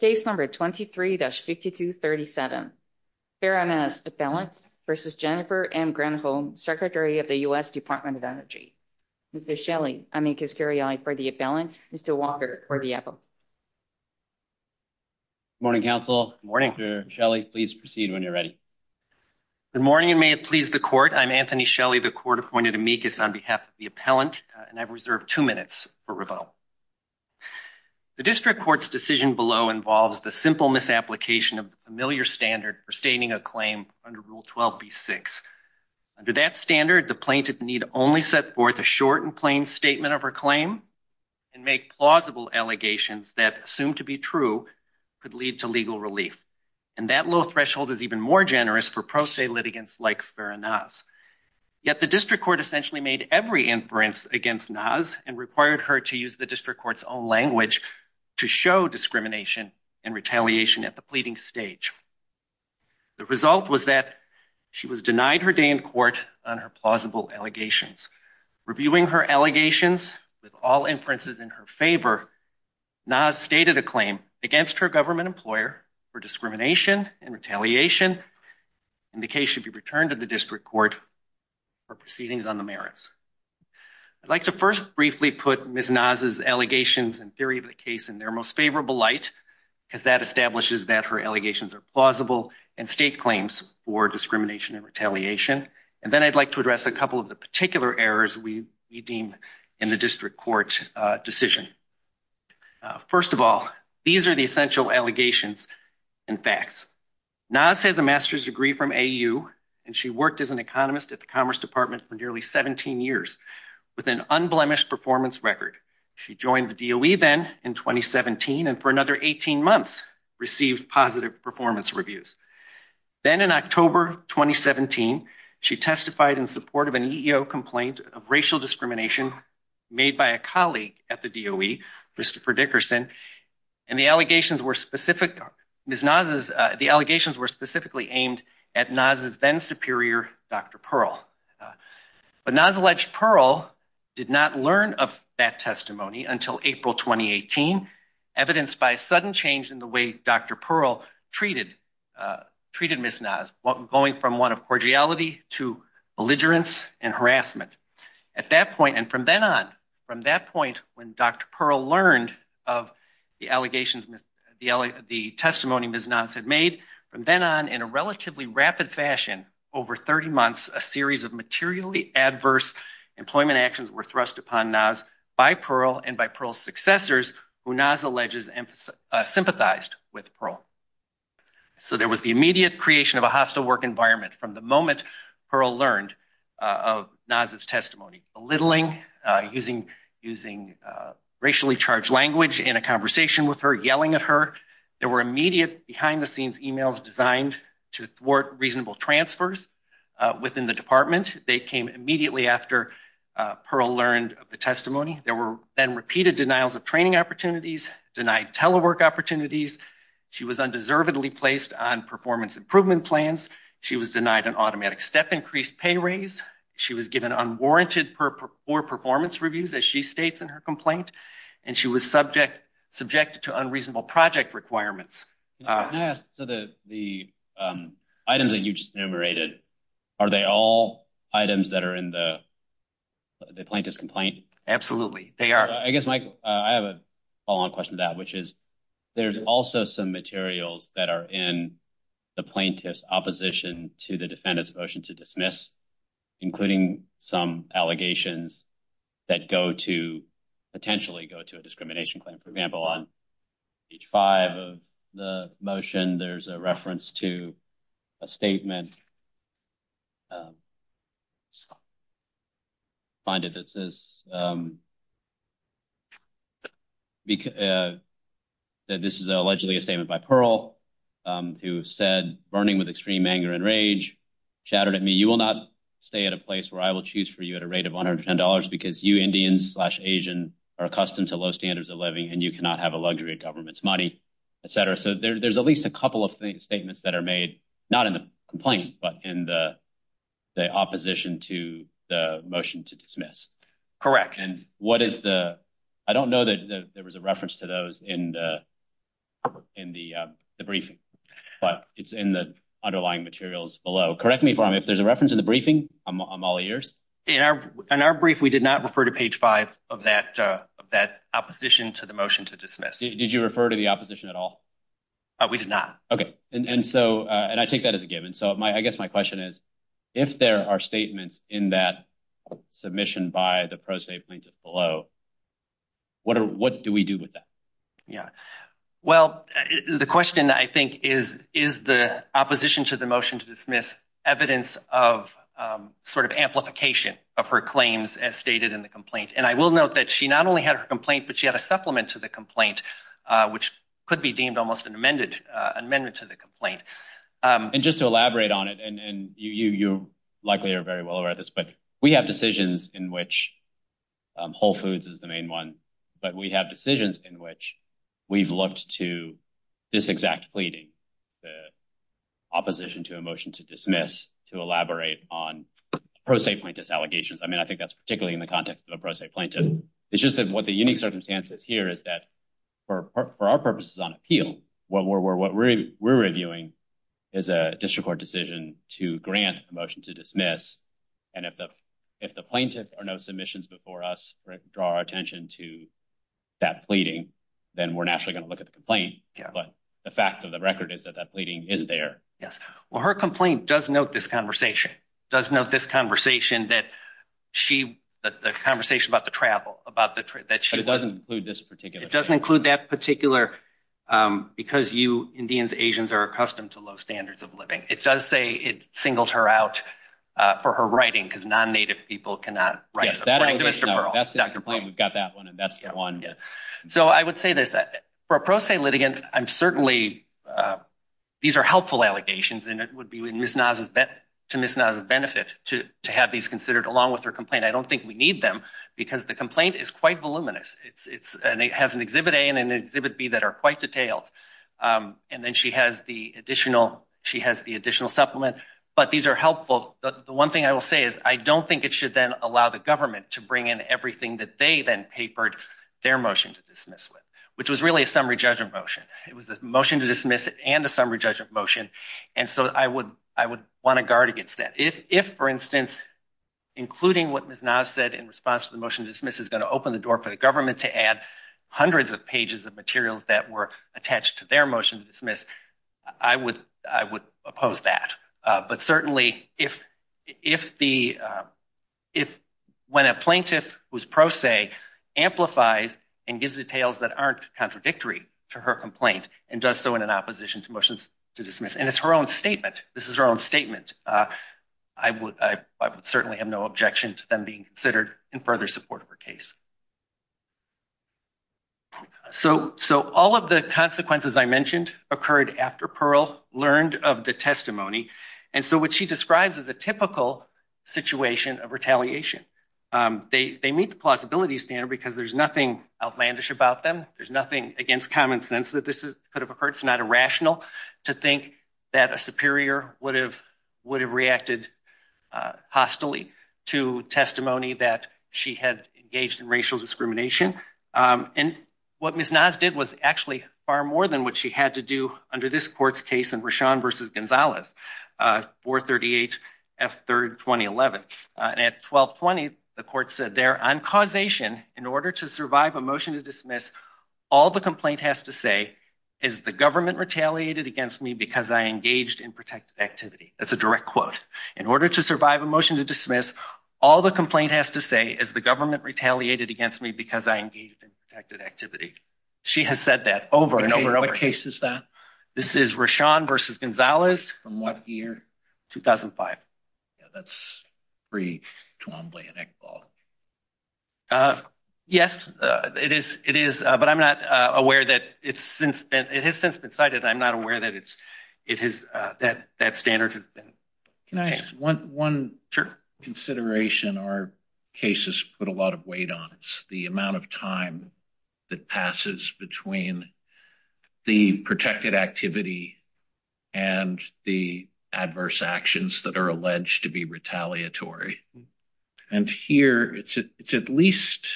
Case number 23-5237. Farah Naz, appellant, v. Jennifer M. Granholm, Secretary of the U.S. Department of Energy. Mr. Shelley, amicus curiae for the appellant. Mr. Walker for the appellant. Good morning, counsel. Good morning. Mr. Shelley, please proceed when you're ready. Good morning, and may it please the court. I'm Anthony Shelley, the court-appointed amicus on behalf of the appellant, and I've reserved two minutes for rebuttal. The district court's decision below involves the simple misapplication of the familiar standard for stating a claim under Rule 12b-6. Under that standard, the plaintiff need only set forth a short and plain statement of her claim and make plausible allegations that, assumed to be true, could lead to legal relief. And that low threshold is even more generous for pro se litigants like Farah Naz. Yet the district court essentially made every inference against Naz and required her to use the district court's own language to show discrimination and retaliation at the pleading stage. The result was that she was denied her day in court on her plausible allegations. Reviewing her allegations with all inferences in her favor, Naz stated a claim against her for discrimination and retaliation, and the case should be returned to the district court for proceedings on the merits. I'd like to first briefly put Ms. Naz's allegations and theory of the case in their most favorable light, because that establishes that her allegations are plausible and state claims for discrimination and retaliation. And then I'd like to address a couple of the particular errors we deem in the district court decision. First of all, these are the essential allegations and facts. Naz has a master's degree from AU, and she worked as an economist at the Commerce Department for nearly 17 years with an unblemished performance record. She joined the DOE then in 2017 and for another 18 months received positive performance reviews. Then in October 2017, she testified in support of an Christopher Dickerson, and the allegations were specifically aimed at Naz's then superior, Dr. Pearl. But Naz alleged Pearl did not learn of that testimony until April 2018, evidenced by a sudden change in the way Dr. Pearl treated Ms. Naz, going from one of cordiality to belligerence and harassment. At that point, and from then on, from that point when Dr. Pearl learned of the allegations, the testimony Ms. Naz had made, from then on in a relatively rapid fashion, over 30 months, a series of materially adverse employment actions were thrust upon Naz by Pearl and by Pearl's successors, who Naz alleges sympathized with Pearl. So there was immediate creation of a hostile work environment from the moment Pearl learned of Naz's testimony, belittling, using racially charged language in a conversation with her, yelling at her. There were immediate behind-the-scenes emails designed to thwart reasonable transfers within the department. They came immediately after Pearl learned of the testimony. There were then repeated denials of training opportunities, denied telework opportunities. She was undeservedly placed on performance improvement plans. She was denied an automatic step-increased pay raise. She was given unwarranted poor performance reviews, as she states in her complaint, and she was subject to unreasonable project requirements. Can I ask, so the items that you just enumerated, are they all items that are in the plaintiff's complaint? Absolutely, they are. I guess, Michael, I have a follow-on question to that, which is, there's also some materials that are in the plaintiff's opposition to the defendant's motion to dismiss, including some allegations that go to, potentially go to, a discrimination claim. For example, on page five of the motion, there's a reference to a statement by Pearl, who said, burning with extreme anger and rage, chattered at me, you will not stay at a place where I will choose for you at a rate of $110 because you Indians slash Asian are accustomed to low standards of living and you cannot have a luxury of government's money, etc. So there's at least a couple of statements that are made, not in the complaint, but in the opposition to the motion to dismiss. Correct. And what is the, I don't know that there was a reference to those in the briefing, but it's in the underlying materials below. Correct me if there's a reference in the briefing, I'm all ears. In our brief, we did not refer to page five of that opposition to the motion to dismiss. Did you refer to the opposition at all? We did not. Okay. And so, and I take that as a given. So my, I guess my question is, if there are statements in that submission by the pro se plaintiff below, what are, what do we do with that? Yeah. Well, the question I think is, is the opposition to the motion to dismiss evidence of sort of amplification of her claims as stated in the complaint. And I will note that she not only had her complaint, but she had a supplement to the complaint, which could be deemed almost an amended amendment to the complaint. And just to elaborate on it, and you likely are very well aware of this, but we have decisions in which, Whole Foods is the main one, but we have decisions in which we've looked to this exact pleading, the opposition to a motion to dismiss, to elaborate on pro se plaintiff's allegations. I mean, I think that's particularly in the context of a pro se plaintiff. It's just that what the unique circumstances here is that for our purposes on appeal, what we're reviewing is a district court decision to grant a motion to dismiss. And if the plaintiff or no submissions before us draw our attention to that pleading, then we're naturally going to look at the complaint. But the fact of the record is that that pleading is there. Yes. Well, her complaint does note this conversation, does note this conversation that she, the conversation about the travel, about the trip that she- But it doesn't include this particular- It doesn't include that particular, because you Indians, Asians are accustomed to low standards of living. It does say it singled her out for her writing, because non-native people cannot write. Yes, that allegation- According to Mr. Pearl, Dr. Pearl. We've got that one, and that's the one. Yeah. So I would say this, for a pro se litigant, I'm certainly, these are helpful allegations, and it would be to Ms. Naz's benefit, to have these considered along with her complaint. I don't think we need them, because the complaint is quite voluminous. It has an Exhibit A and an Exhibit B that are quite detailed. And then she has the additional, she has the additional supplement. But these are helpful. The one thing I will say is, I don't think it should then allow the government to bring in everything that they then papered their motion to dismiss with, which was really a summary judgment motion. It was a motion to dismiss and a summary judgment motion. And so I would want to guard against that. If, for instance, including what Ms. Naz said in response to the motion to dismiss is going to open the door for the government to add hundreds of pages of materials that were attached to their motion to dismiss, I would oppose that. But certainly, if when a plaintiff who's pro se amplifies and gives details that aren't contradictory to her complaint, and does so in an opposition to motions to dismiss, and it's her own statement, this is her own statement, I would certainly have no objection to them being considered in further support of her case. So all of the consequences I mentioned occurred after Pearl learned of the testimony. And so what she describes is a typical situation of retaliation. They meet the plausibility standard because there's nothing outlandish about them. There's nothing against common sense that this could have occurred. It's not irrational to think that a superior would have would have reacted hostilely to testimony that she had engaged in racial discrimination. And what Ms. Naz did was actually far more than what she had to do under this court's case in Rashan versus Gonzalez, 438 F3rd 2011. And at 1220, the court said there on causation in order to survive a motion to dismiss, all the complaint has to say is the government retaliated against me because I engaged in protected activity. That's a direct quote. In order to survive a motion to dismiss, all the complaint has to say is the government retaliated against me because I engaged in protected activity. She has said that over and over and over. What case is that? This is Rashan versus Gonzalez. From what year? 2005. Yeah, that's pre Twombly and Iqbal. Yes, it is. It is. But I'm not aware that it's since it has since been cited. I'm not aware that it's it has that that standard. Can I want one consideration? Our cases put a lot of weight on the amount of time that passes between the protected activity and the adverse actions that are alleged to be retaliatory. And here it's it's at least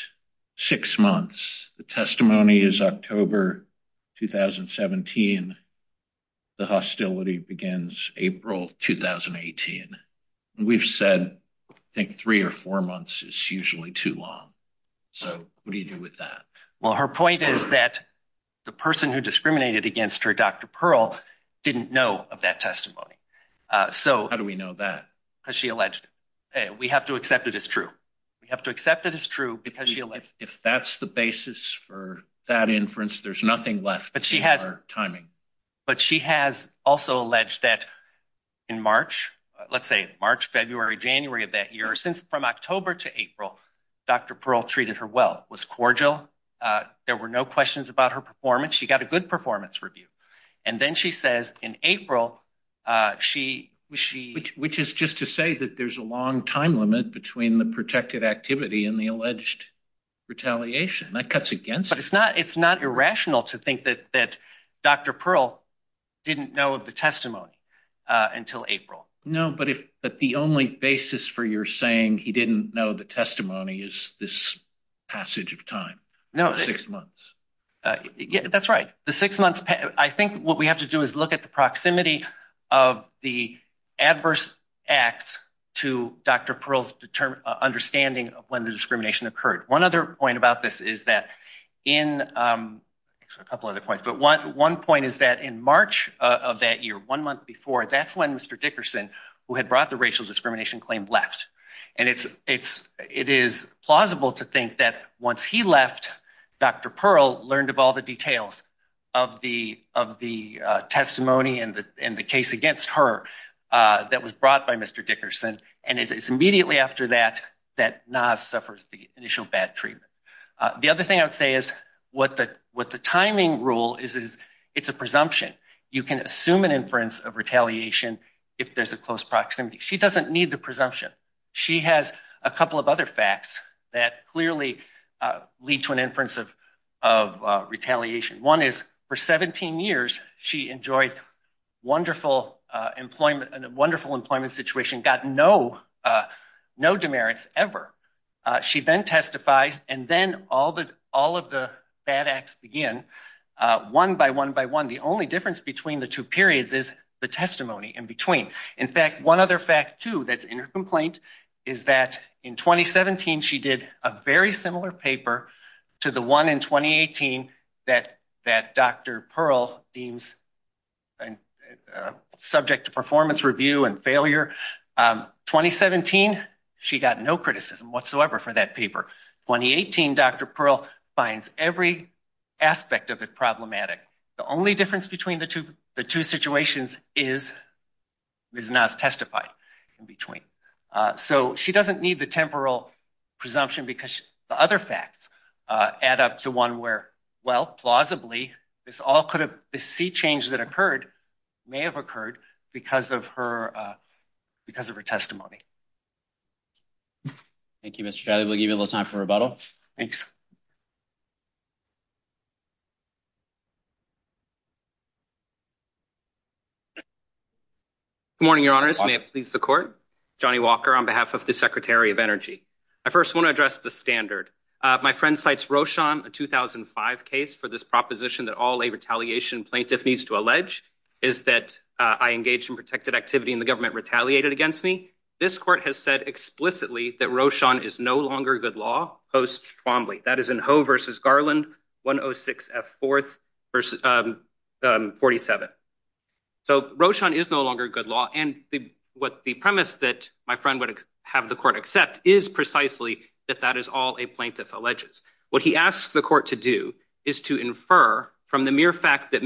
six months. The testimony is October 2017. The hostility begins April 2018. We've said I think three or four months is usually too long. So what do you do with that? Well, her point is that the person who discriminated against her, Dr. Pearl, didn't know of that testimony. So how do we know that? Because she alleged we have to accept it as true. We have to accept it as true because she if that's the basis for that inference, there's nothing left. But she has timing. But she has also alleged that in March, let's say March, February, January of that year, from October to April, Dr. Pearl treated her well, was cordial. There were no questions about her performance. She got a good performance review. And then she says in April, she was she, which is just to say that there's a long time limit between the protected activity and the alleged retaliation that cuts against. But it's not it's not irrational to think that Dr. Pearl didn't know of the testimony until April. No, but if but the only basis for you're saying he didn't know the testimony is this passage of time. No, six months. That's right. The six months. I think what we have to do is look at the proximity of the adverse acts to Dr. Pearl's understanding of when the discrimination occurred. One other March of that year, one month before, that's when Mr. Dickerson, who had brought the racial discrimination claim left. And it's it's it is plausible to think that once he left, Dr. Pearl learned of all the details of the of the testimony and the in the case against her that was brought by Mr. Dickerson. And it is immediately after that that NAS suffers the initial bad treatment. The other thing I would say is what the what the timing rule is, is it's a presumption. You can assume an inference of retaliation if there's a close proximity. She doesn't need the presumption. She has a couple of other facts that clearly lead to an inference of of retaliation. One is for 17 years, she enjoyed wonderful employment and a wonderful employment situation, got no no demerits ever. She then testifies. And then all the all of the bad acts begin one by one by one. The only difference between the two periods is the testimony in between. In fact, one other fact, too, that's in her complaint is that in 2017, she did a very similar paper to the one in 2018 that that Dr. Pearl deems subject to performance review and failure. 2017, she got no criticism whatsoever for that paper. 2018, Dr. Pearl finds every aspect of it problematic. The only difference between the two the two situations is Ms. NAS testified in So she doesn't need the temporal presumption because the other facts add up to one where, well, plausibly, this all could have the sea change that occurred may have occurred because of her because of her testimony. Thank you, Mr. We'll give you a little time for rebuttal. Thanks. Good morning, Your Honor. May it please the court. Johnny Walker on behalf of the Secretary of Energy. I first want to address the standard. My friend cites Roshan, a 2005 case for this proposition that all a retaliation plaintiff needs to allege is that I engaged in protected activity and the government retaliated against me. This court has said explicitly that Roshan is no longer good law. That is in Ho versus Garland, 106 F 4th versus 47. So Roshan is no longer good law. And what the premise that my friend would have the court accept is precisely that that is all a plaintiff alleges. What he asked the court to do is to infer from the mere fact that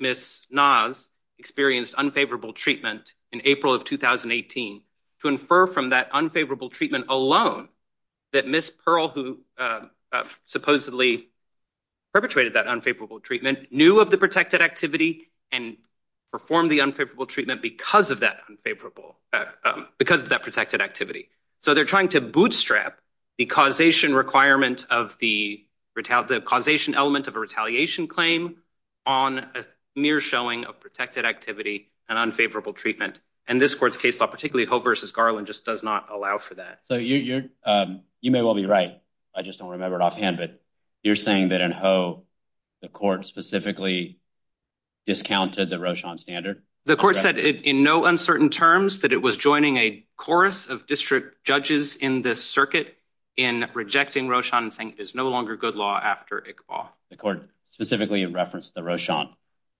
Ms. NAS experienced unfavorable treatment in April of 2018 to infer from that unfavorable treatment alone that Miss Pearl, who supposedly perpetrated that unfavorable treatment, knew of the protected activity and perform the unfavorable treatment because of that unfavorable because of that protected activity. So they're trying to bootstrap the causation requirement of the retail, the causation element of a retaliation claim on a mere showing of protected activity and unfavorable treatment. And this court's case law, particularly Ho versus Garland, just does not allow for that. So you may well be right. I just don't remember it offhand. But you're saying that in Ho, the court specifically discounted the Roshan standard. The court said in no uncertain terms that it was joining a chorus of district judges in this circuit in rejecting Roshan and saying it is no longer good law after Iqbal. The court specifically referenced the Roshan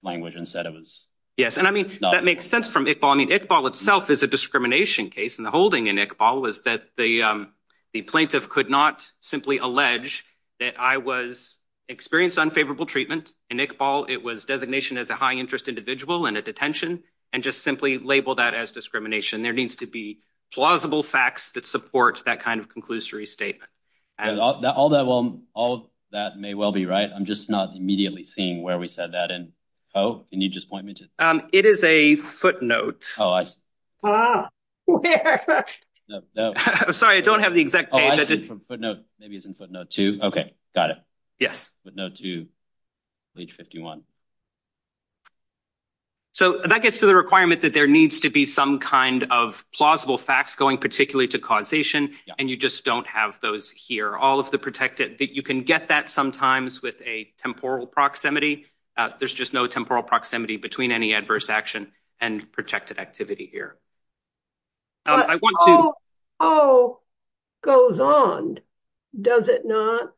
language and said it was. Yes. And I mean, that makes sense from Iqbal. I mean, Iqbal itself is a discrimination case. And the holding in Iqbal was that the plaintiff could not simply allege that I was experienced unfavorable treatment. In Iqbal, it was designation as a high interest individual in a detention and just simply label that as discrimination. There needs to be plausible facts that support that kind of conclusory statement. Although all that may well be right, I'm just not immediately seeing where we said that in Ho. Can you just point me to it? It is a footnote. Oh, I see. I'm sorry. I don't have the exact footnote. Maybe it's in footnote two. Okay. Got it. Yes. Footnote two, page 51. So that gets to the requirement that there needs to be some kind of plausible facts going particularly to causation. And you just don't have those here. All of the protected that you can get that sometimes with a temporal proximity. There's just no temporal proximity between any adverse action and protected activity here. Ho goes on. Does it not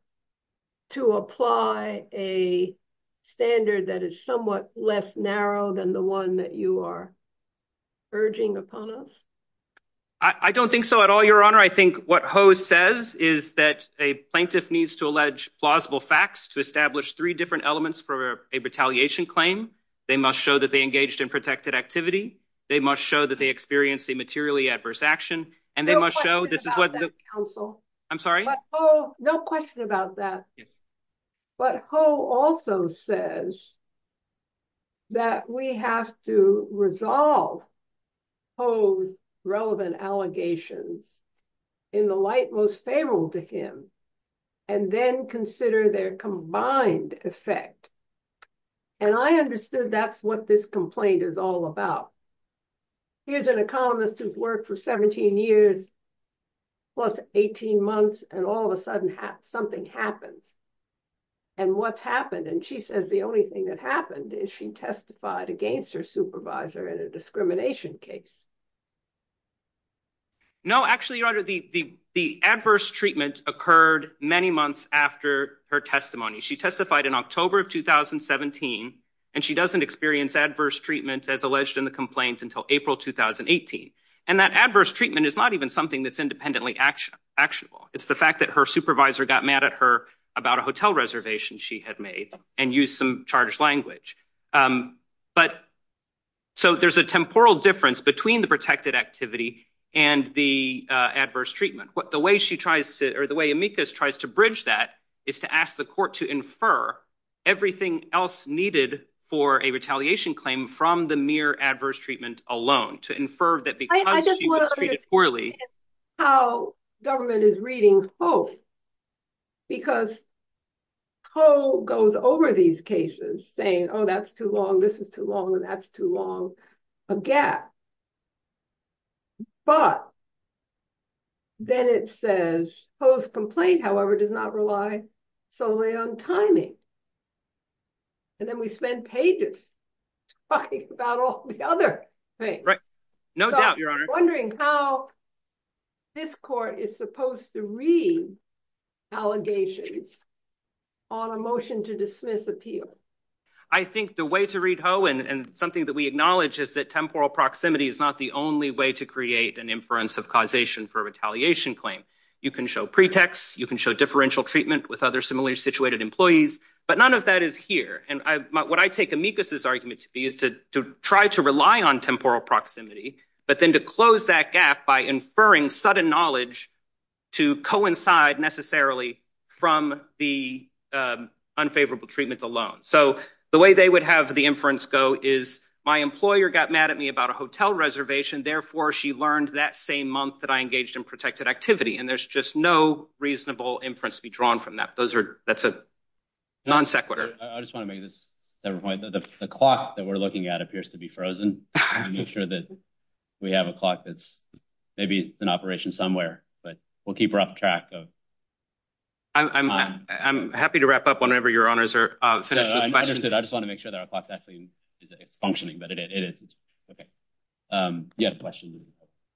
to apply a standard that is somewhat less narrow than the one that you are urging upon us? I don't think so at all, Your Honor. I think what Ho says is that a plaintiff needs to allege plausible facts to establish three different elements for a retaliation claim. They must show that they engaged in protected activity. They must show that they experienced a materially adverse action. And they must show this is what counsel. I'm sorry. Oh, no question about that. Yes. But Ho also says that we have to resolve Ho's relevant allegations in the light most favorable to him and then consider their combined effect. And I understood that's what this complaint is all about. Here's an economist who's worked for 17 years, plus 18 months, and all of a sudden something happens. And what's happened? And she says the only thing that happened is she testified against her supervisor in a discrimination case. No, actually, Your Honor, the adverse treatment occurred many months after her testimony. She testified in October of 2017, and she doesn't experience adverse treatment as alleged in the complaint until April 2018. And that adverse treatment is not even something that's independently actionable. It's the fact that her supervisor got mad at her about a hotel reservation she had made and used some charged language. So there's a temporal difference between the protected activity and the adverse treatment. The way she tries to, or the way Amicus tries to bridge that is to ask the court to infer everything else needed for a retaliation claim from the mere adverse treatment alone, to infer that because she was treated poorly. I just want to understand these cases saying, oh, that's too long, this is too long, and that's too long, a gap. But then it says, post-complaint, however, does not rely solely on timing. And then we spend pages talking about all the other things. Right. No doubt, Your Honor. Wondering how this court is supposed to read allegations on a motion to dismiss appeal. I think the way to read, Ho, and something that we acknowledge is that temporal proximity is not the only way to create an inference of causation for a retaliation claim. You can show pretext, you can show differential treatment with other similarly situated employees, but none of that is here. And what I take Amicus's argument to be is to try to rely on temporal proximity, but then to close that gap by inferring sudden knowledge to coincide necessarily from the unfavorable treatment alone. So the way they would have the inference go is, my employer got mad at me about a hotel reservation, therefore she learned that same month that I engaged in protected activity. And there's just no reasonable inference to be drawn from that. Those are, that's a non sequitur. I just want to make this point that the clock that we're looking at appears to be frozen. Make sure that we have a clock that's maybe in operation somewhere, but we'll keep her up track. I'm happy to wrap up whenever your honors are finished with questions. I just want to make sure that our clock's actually functioning, but it is. Okay. You have a question?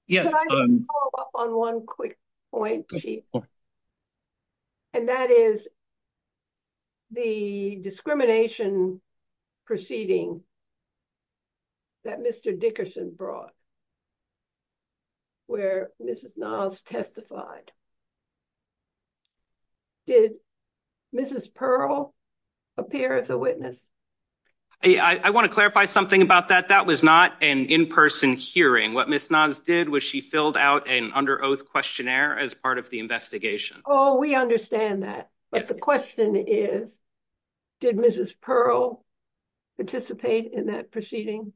Yeah. Can I just follow up on one quick point? Sure. And that is the discrimination proceeding that Mr. Dickerson brought where Mrs. Nas testified. Did Mrs. Pearl appear as a witness? I want to clarify something about that. That was not an in-person hearing. What Mrs. Nas did was she filled out an under oath questionnaire as part of the investigation. Oh, we understand that. But the question is, did Mrs. Pearl participate in that proceeding?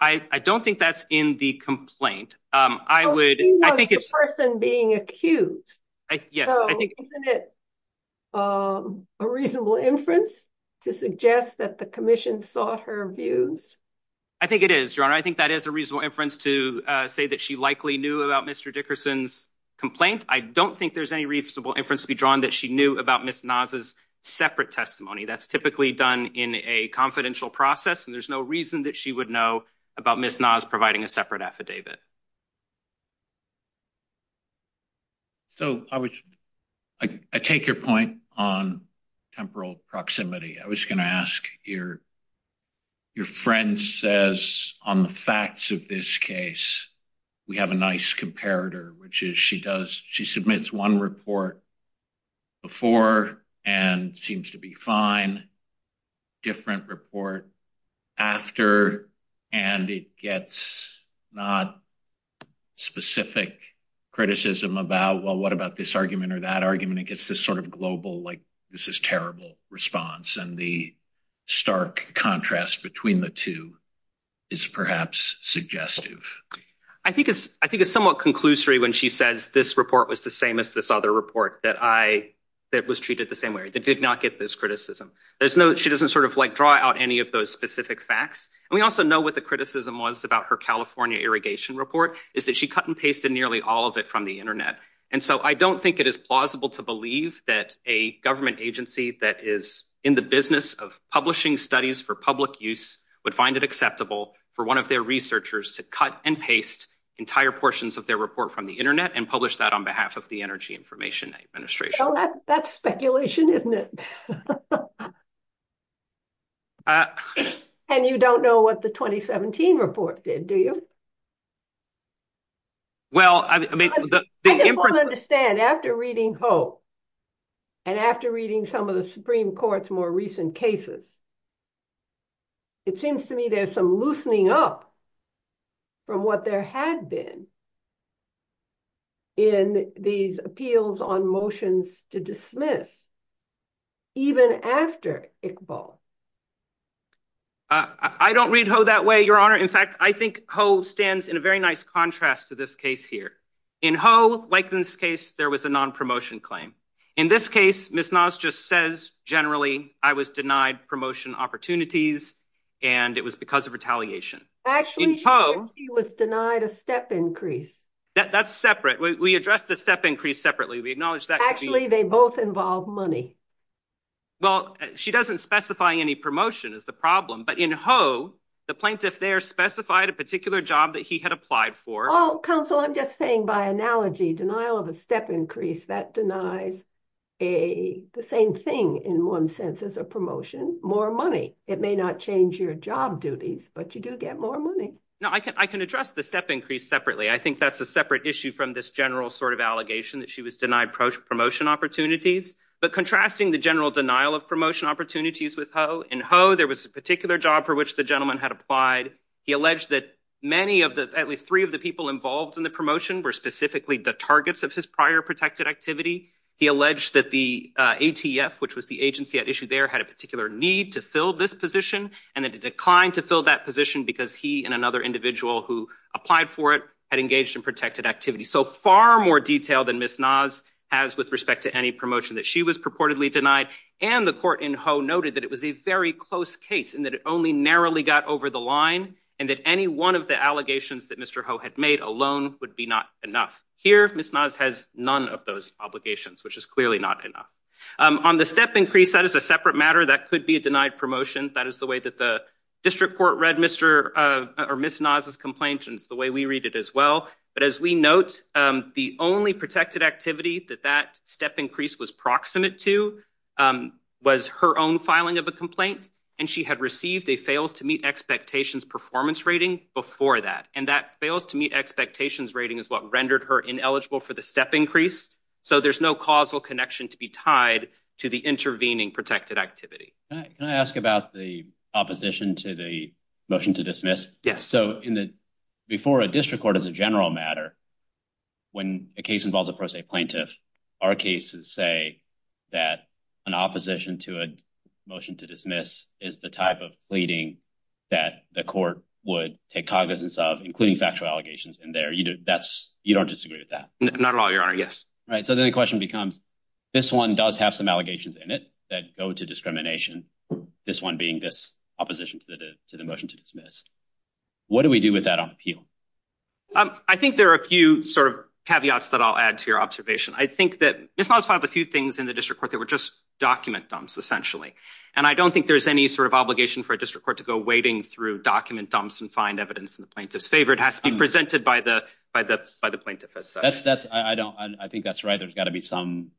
I don't think that's in the complaint. I would, I think it's- So she was the person being accused. Yes. So isn't it a reasonable inference to suggest that the commission sought her views? I think it is, your honor. I think that is a reasonable inference to say that she likely knew about Mr. Dickerson's complaint. I don't think there's any reasonable inference to be drawn that she knew about Mrs. Nas' separate testimony. That's typically done in a confidential process, and there's no reason that she would know about Mrs. Nas providing a separate affidavit. So I would, I take your point on temporal proximity. I was going to ask your your friend says on the facts of this case, we have a nice comparator, which is she does, she submits one report before and seems to be fine, different report after, and it gets not specific criticism about, well, what about this argument or that argument? It gets this sort of contrast between the two is perhaps suggestive. I think it's, I think it's somewhat conclusory when she says this report was the same as this other report that I, that was treated the same way. They did not get this criticism. There's no, she doesn't sort of like draw out any of those specific facts. And we also know what the criticism was about her California irrigation report is that she cut and pasted nearly all of it from the internet. And so I don't think it is plausible to believe that a government agency that is in the business of publishing studies for public use would find it acceptable for one of their researchers to cut and paste entire portions of their report from the internet and publish that on behalf of the Energy Information Administration. That's speculation, isn't it? And you don't know what the 2017 report did, do you? Well, I mean, the inference... I just want to understand, after reading Ho, and after reading some of the Supreme Court's more recent cases, it seems to me there's some loosening up from what there had been in these appeals on motions to dismiss, even after Iqbal. I don't read Ho that way, Your Honor. In fact, I think Ho stands in a very nice contrast to this case here. In Ho, like in this case, there was a non-promotion claim. In this case, Ms. Nas just says, generally, I was denied promotion opportunities, and it was because of retaliation. Actually, she said she was denied a step increase. That's separate. We addressed the step increase separately. We acknowledge that... Actually, they both involve money. Well, she doesn't specify any promotion as the problem, but in Ho, the plaintiff there specified a particular job that he had applied for. Oh, counsel, I'm just saying, by analogy, denial of a step increase, that denies the same thing, in one sense, as a promotion, more money. It may not change your job duties, but you do get more money. No, I can address the step increase separately. I think that's a separate issue from this general sort of allegation that she was denied promotion opportunities. But contrasting the general denial of promotion opportunities with Ho, in Ho, there was a particular job for which the gentleman had applied. He alleged that many of the, at least three of the people involved in the promotion were specifically the targets of his prior protected activity. He alleged that the ATF, which was the agency at issue there, had a particular need to fill this position, and that it declined to fill that position because he and another individual who applied for it had engaged in protected activity. So far more detail than Ms. Naz has with respect to any promotion that she was purportedly denied. And the court in Ho noted that it was a very close case, and that it only narrowly got over the line, and that any one of the allegations that Mr. Ho had made alone would be not enough. Here, Ms. Naz has none of those obligations, which is clearly not enough. On the step increase, that is a separate matter. That could be a denied promotion. That is the way that the district court read Ms. Naz's complaint, and it's the way we read it as well. But as we note, the only protected activity that that step increase was proximate to was her own filing of a complaint, and she had received a fails-to-meet-expectations performance rating before that. And that fails-to-meet-expectations rating is what rendered her ineligible for the step increase. So there's no causal connection to be tied to the intervening protected activity. Can I ask about the opposition to the motion to dismiss? Yes. So, before a district court is a general matter, when a case involves a pro se plaintiff, our cases say that an opposition to a motion to dismiss is the type of pleading that the court would take cognizance of, including factual allegations in there. You don't disagree with that? Not at all, Your Honor. Yes. Right. So then the question becomes, this one does have some allegations in it that go to discrimination, this one being this opposition to the motion to dismiss. What do we do with that on appeal? I think there are a few sort of caveats that I'll add to your observation. I think that Ms. Knauss filed a few things in the district court that were just document dumps, essentially. And I don't think there's any sort of obligation for a district court to go wading through document dumps and find evidence in the plaintiff's favor. It has to be presented by the plaintiff as such. I think that's right. There's got to be some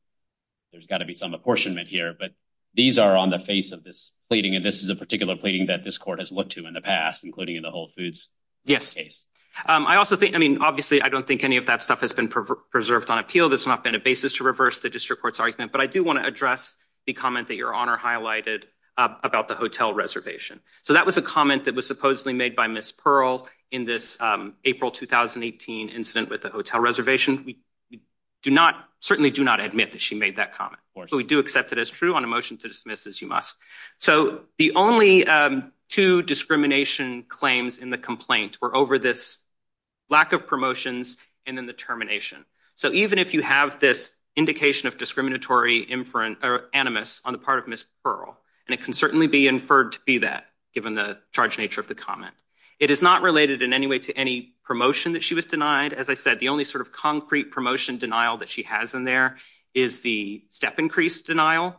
apportionment here. But these are on the face of this pleading, and this is a particular pleading that this court has looked to in the past, including in the Whole Foods case. Yes. I mean, obviously, I don't think any of that stuff has been preserved on appeal. There's not been a basis to reverse the district court's argument. But I do want to address the comment that Your Honor highlighted about the hotel reservation. So that was a comment that was supposedly made by Ms. Pearl in this April 2018 incident with the hotel reservation. We certainly do not admit that she made that comment. Of course. But we do accept it as true on a motion to dismiss, as you must. So the only two discrimination claims in the complaint were over this lack of promotions and then the termination. So even if you have this indication of discriminatory animus on the part of Ms. Pearl, and it can certainly be inferred to be that, given the charge nature of the comment, it is not related in any way to any promotion that she was denied. As I said, the only sort of concrete promotion denial that she has in there is the step increase denial,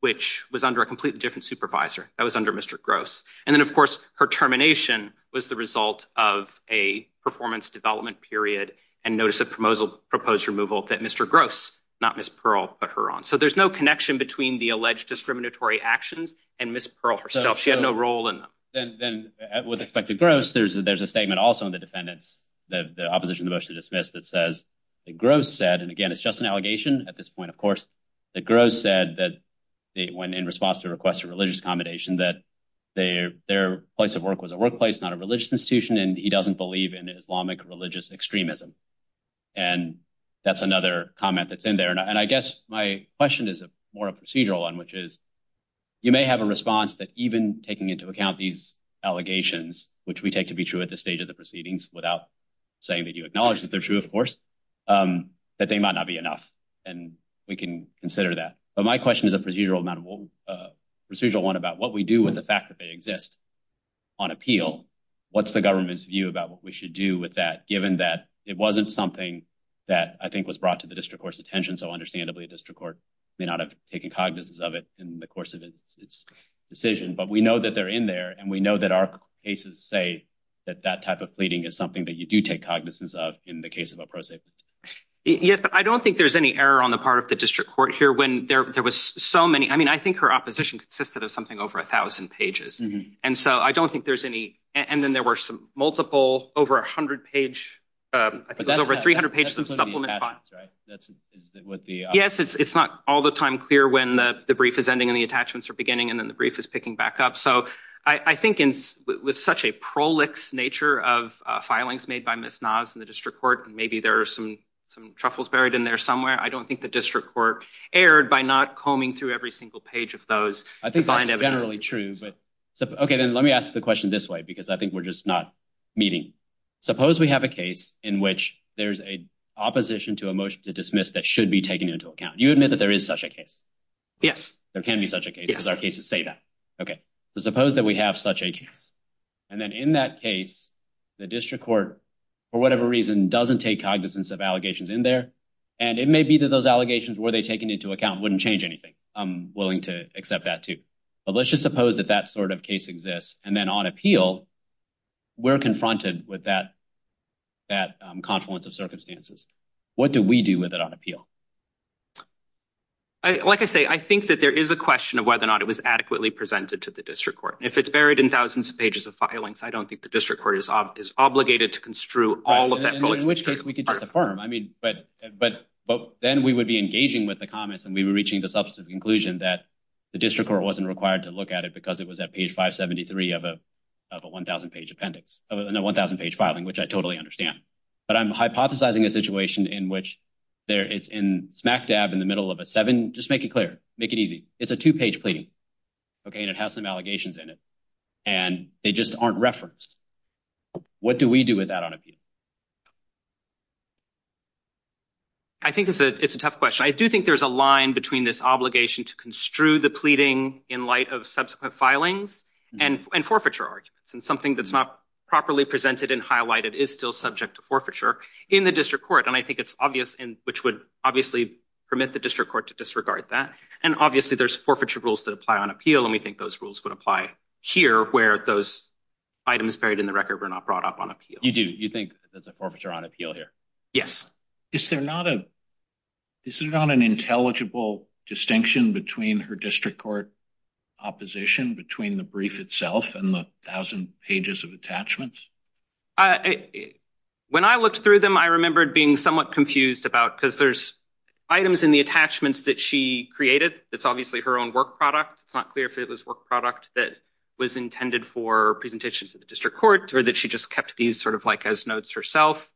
which was under a completely different supervisor. That was under Mr. Gross. And then, of course, her termination was the result of a performance development period and notice of proposal proposed removal that Mr. Gross, not Ms. Pearl, put her on. So there's no connection between the alleged discriminatory actions and Ms. Pearl herself. She had no role in them. Then with respect to Gross, there's a statement also in the defendant's, the opposition to the motion to dismiss that says that Gross said, and again, it's just an allegation at this point, that Gross said that when in response to a request for religious accommodation, that their place of work was a workplace, not a religious institution, and he doesn't believe in Islamic religious extremism. And that's another comment that's in there. And I guess my question is more a procedural one, which is, you may have a response that even taking into account these allegations, which we take to be true at this stage of the proceedings, without saying that you acknowledge that they're true, of course, that they might not be enough. And we can consider that. But my question is a procedural one about what we do with the fact that they exist on appeal. What's the government's view about what we should do with that, given that it wasn't something that I think was brought to the district court's attention. So understandably, a district court may not have taken cognizance of it in the course of its decision. But we know that they're in there. And we know that our cases say that that type of fleeting is something that you take cognizance of in the case of a prosecutor. Yes, but I don't think there's any error on the part of the district court here when there was so many. I mean, I think her opposition consisted of something over 1000 pages. And so I don't think there's any. And then there were some multiple over 100 page. I think it was over 300 pages of supplement. Yes, it's not all the time clear when the brief is ending and the attachments are beginning and then the brief is picking back up. I think with such a prolix nature of filings made by Ms. Nas in the district court, maybe there are some truffles buried in there somewhere. I don't think the district court erred by not combing through every single page of those. I think that's generally true. Okay, then let me ask the question this way, because I think we're just not meeting. Suppose we have a case in which there's an opposition to a motion to dismiss that should be taken into account. You admit that there is such a case? Yes. There can be such a case because our cases say okay, suppose that we have such a case. And then in that case, the district court, for whatever reason, doesn't take cognizance of allegations in there. And it may be that those allegations were they taken into account wouldn't change anything. I'm willing to accept that, too. But let's just suppose that that sort of case exists. And then on appeal, we're confronted with that. That confluence of circumstances. What do we do with it on appeal? Like I say, I think that there is a question of whether or not it was adequately presented to the district court. If it's buried in thousands of pages of filings, I don't think the district court is obligated to construe all of that. In which case we could just affirm. I mean, but then we would be engaging with the comments and we were reaching the subsequent conclusion that the district court wasn't required to look at it because it was at page 573 of a 1,000 page appendix. No, 1,000 page filing, which I totally understand. But I'm hypothesizing a situation in which it's in smack dab in the middle of a seven. Just make it clear. Make it easy. It's a two page pleading. Okay. And it has some allegations in it and they just aren't referenced. What do we do with that on appeal? I think it's a it's a tough question. I do think there's a line between this obligation to construe the pleading in light of subsequent filings and forfeiture arguments and something that's not properly presented and highlighted is still subject to forfeiture in the district court. I think it's obvious and which would obviously permit the district court to disregard that. And obviously there's forfeiture rules that apply on appeal and we think those rules would apply here where those items buried in the record were not brought up on appeal. You do. You think that's a forfeiture on appeal here? Yes. Is there not an intelligible distinction between her district court opposition between the brief itself and the 1,000 pages of attachments? When I looked through them, I remembered being somewhat confused about because there's items in the attachments that she created. It's obviously her own work product. It's not clear if it was work product that was intended for presentations at the district court or that she just kept these sort of like as notes herself.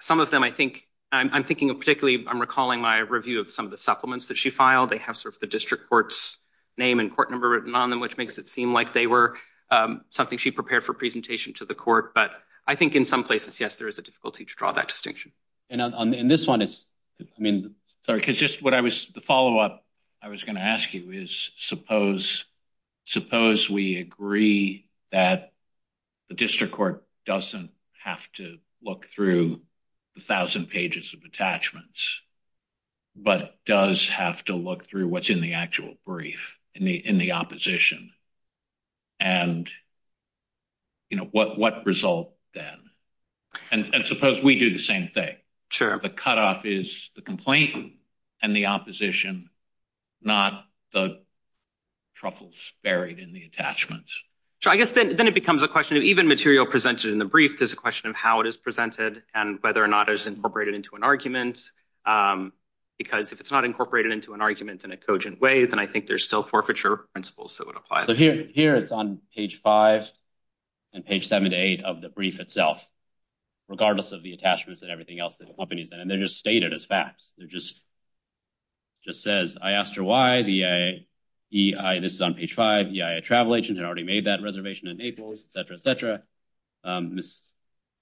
Some of them I think I'm thinking of particularly I'm recalling my review of some of the supplements that she filed. They have sort of the district court's name and court number written on them, which makes it seem like they were something she prepared for presentation to the court. But I think in some places, yes, there is a difficulty to draw that distinction. And this one is, I mean, sorry, because just what I was the follow-up I was going to ask you is suppose we agree that the district court doesn't have to look through the 1,000 pages of attachments, but does have to look through what's in the actual brief in the in the opposition. And, you know, what result then? And suppose we do the same thing. Sure. The cutoff is the complaint and the opposition, not the truffles buried in the attachments. Sure, I guess then it becomes a question of even material presented in the brief, there's a question of how it is presented and whether or not it's incorporated into an argument. Because if it's not incorporated into an argument in a cogent way, then I think there's still forfeiture principles that would apply. So here it's on page five and page seven to eight of the brief itself, regardless of the attachments and everything else that the company's in. And they're just stated as facts. They're just just says, I asked her why the EIA, this is on page five, a travel agent had already made that reservation in Naples, et cetera, et cetera. Miss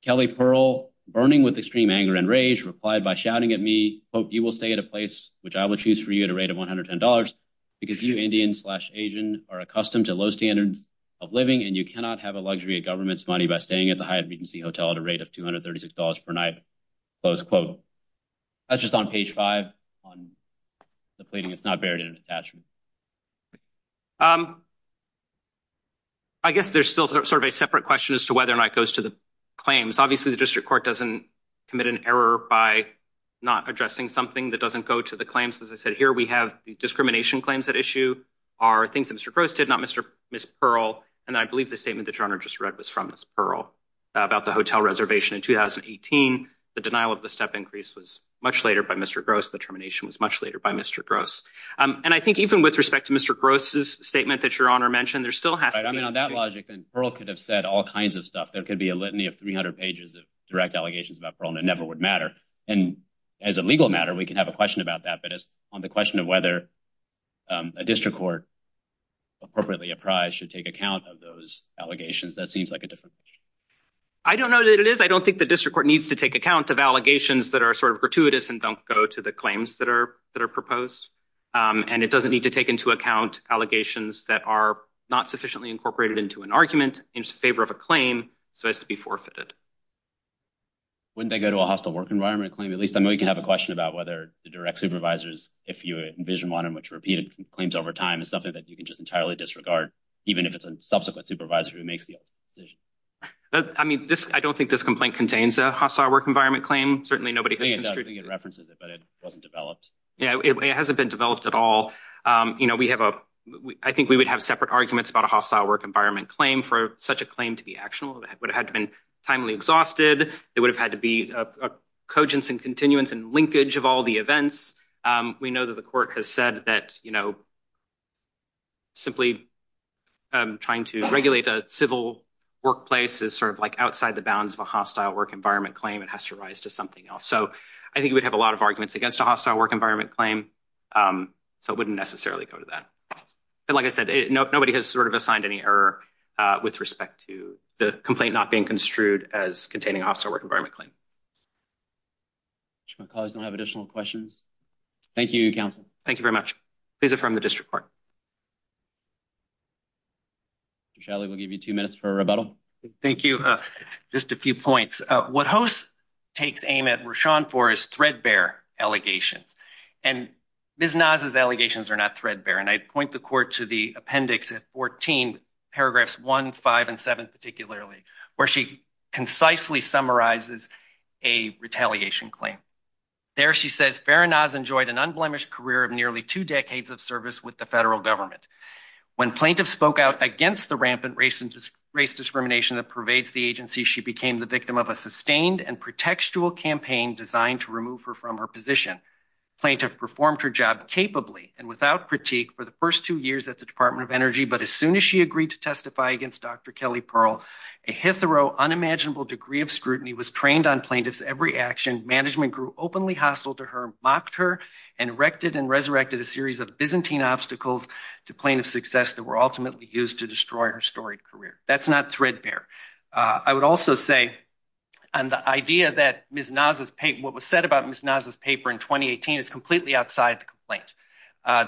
Kelly Pearl burning with extreme anger and rage replied by shouting at me, quote, you will stay at a place which I will choose for you at a rate of one hundred ten dollars because you Indian slash Asian are accustomed to low standards of living and you cannot have a luxury of government's money by staying at the Hyatt Regency Hotel at a rate of two hundred thirty six dollars per night. Close quote. That's just on page five on the pleading. It's not buried in an attachment. I guess there's still sort of a separate question as to whether or not it goes to the claims. Obviously, the district court doesn't commit an error by not addressing something that doesn't go to the claims. As I said here, we have the discrimination claims that issue are things that Mr. Gross did not Mr. Pearl. And I believe the statement that you just read was from Pearl about the hotel reservation in 2018. The denial of the step increase was much later by Mr. Gross. The termination was much later by Mr. Gross. And I think even with respect to Mr. Gross's statement that your honor mentioned, there still has to be on that logic. And Pearl could have said all kinds of stuff. There could be a litany of 300 pages of direct allegations about Pearl and it never would matter. And as a legal matter, we can have a question about that. But on the question of whether a district court appropriately apprised should take account of those allegations, that seems like a different. I don't know that it is. I don't think the district court needs to take account of allegations that are sort of gratuitous and don't go to the claims that are proposed. And it doesn't need to take into account allegations that are not sufficiently incorporated into an argument in favor of a claim so as to be forfeited. Wouldn't they go to a hostile work environment claim? At least I know you can have a question about whether the direct supervisors, if you envision one in which repeated claims over time is something that you can just entirely disregard, even if it's a subsequent supervisor who makes the decision. I mean, I don't think this complaint contains a hostile work environment claim. I think it references it, but it wasn't developed. Yeah, it hasn't been developed at all. I think we would have separate arguments about a hostile work environment claim for such a claim to be actionable. It would have had to be timely exhausted. It would have had to be a cogence and continuance and linkage of all the events. We know that the court has said that simply trying to regulate a civil workplace is sort of outside the bounds of a hostile work environment claim. It has to rise to something else. So I think we'd have a lot of arguments against a hostile work environment claim, so it wouldn't necessarily go to that. But like I said, nobody has sort of assigned any error with respect to the complaint not being construed as containing a hostile work environment claim. I'm sure my colleagues don't have additional questions. Thank you, counsel. Thank you very much. These are from the district court. Mr. Shadley, we'll give you two minutes for a rebuttal. Thank you. Just a few points. What Hoste takes aim at Rashaun for is threadbare allegations. And Ms. Naz's allegations are not threadbare. And I'd point the court to the appendix at 14, paragraphs 1, 5, and 7 particularly, where she concisely summarizes a retaliation claim. There she says, Farah Naz enjoyed an unblemished career of nearly two decades of service with the federal government. When plaintiffs spoke out against the rampant race discrimination that pervades the agency, she became the victim of a sustained and pretextual campaign designed to remove her from her position. Plaintiff performed her job capably and without critique for the first two years at the Department of Energy. But as soon as she agreed to testify against Dr. Kelly Pearl, a hitherto unimaginable degree of scrutiny was trained on plaintiff's every action. Management grew openly hostile to her, mocked her, and erected and resurrected a series of Byzantine obstacles to plaintiff's success that were used to destroy her storied career. That's not threadbare. I would also say, on the idea that Ms. Naz's paper, what was said about Ms. Naz's paper in 2018 is completely outside the complaint.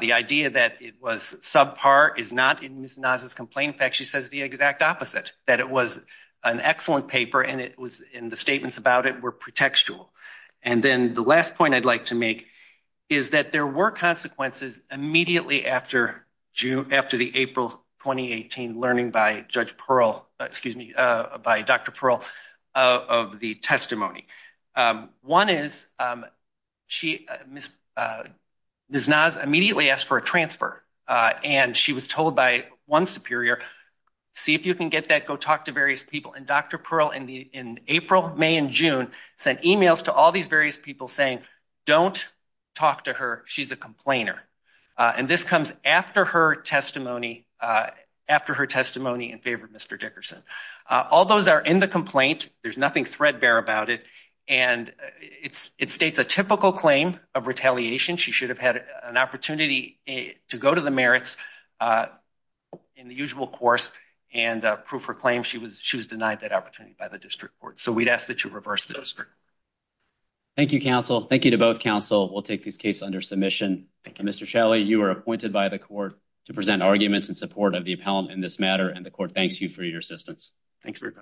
The idea that it was subpar is not in Ms. Naz's complaint. In fact, she says the exact opposite, that it was an excellent paper and it was in the statements about it were pretextual. And then the last point I'd like to make is that there were consequences immediately after the April 2018 learning by Judge Pearl, excuse me, by Dr. Pearl of the testimony. One is Ms. Naz immediately asked for a transfer and she was told by one superior, see if you can get that, go talk to various people. And Dr. Pearl in April, May, and June sent emails to all these various people saying, don't talk to her, she's a complainer. And this comes after her testimony, after her testimony in favor of Mr. Dickerson. All those are in the complaint. There's nothing threadbare about it. And it states a typical claim of retaliation. She should have had an opportunity to go to the merits in the usual course and prove her claim. She was denied that opportunity by the district court. So we'd ask that you reverse the district. Thank you, counsel. Thank you to both counsel. We'll take this case under submission. Mr. Shelley, you are appointed by the court to present arguments in support of the appellant in this matter. And the court thanks you for your assistance. Thanks very much.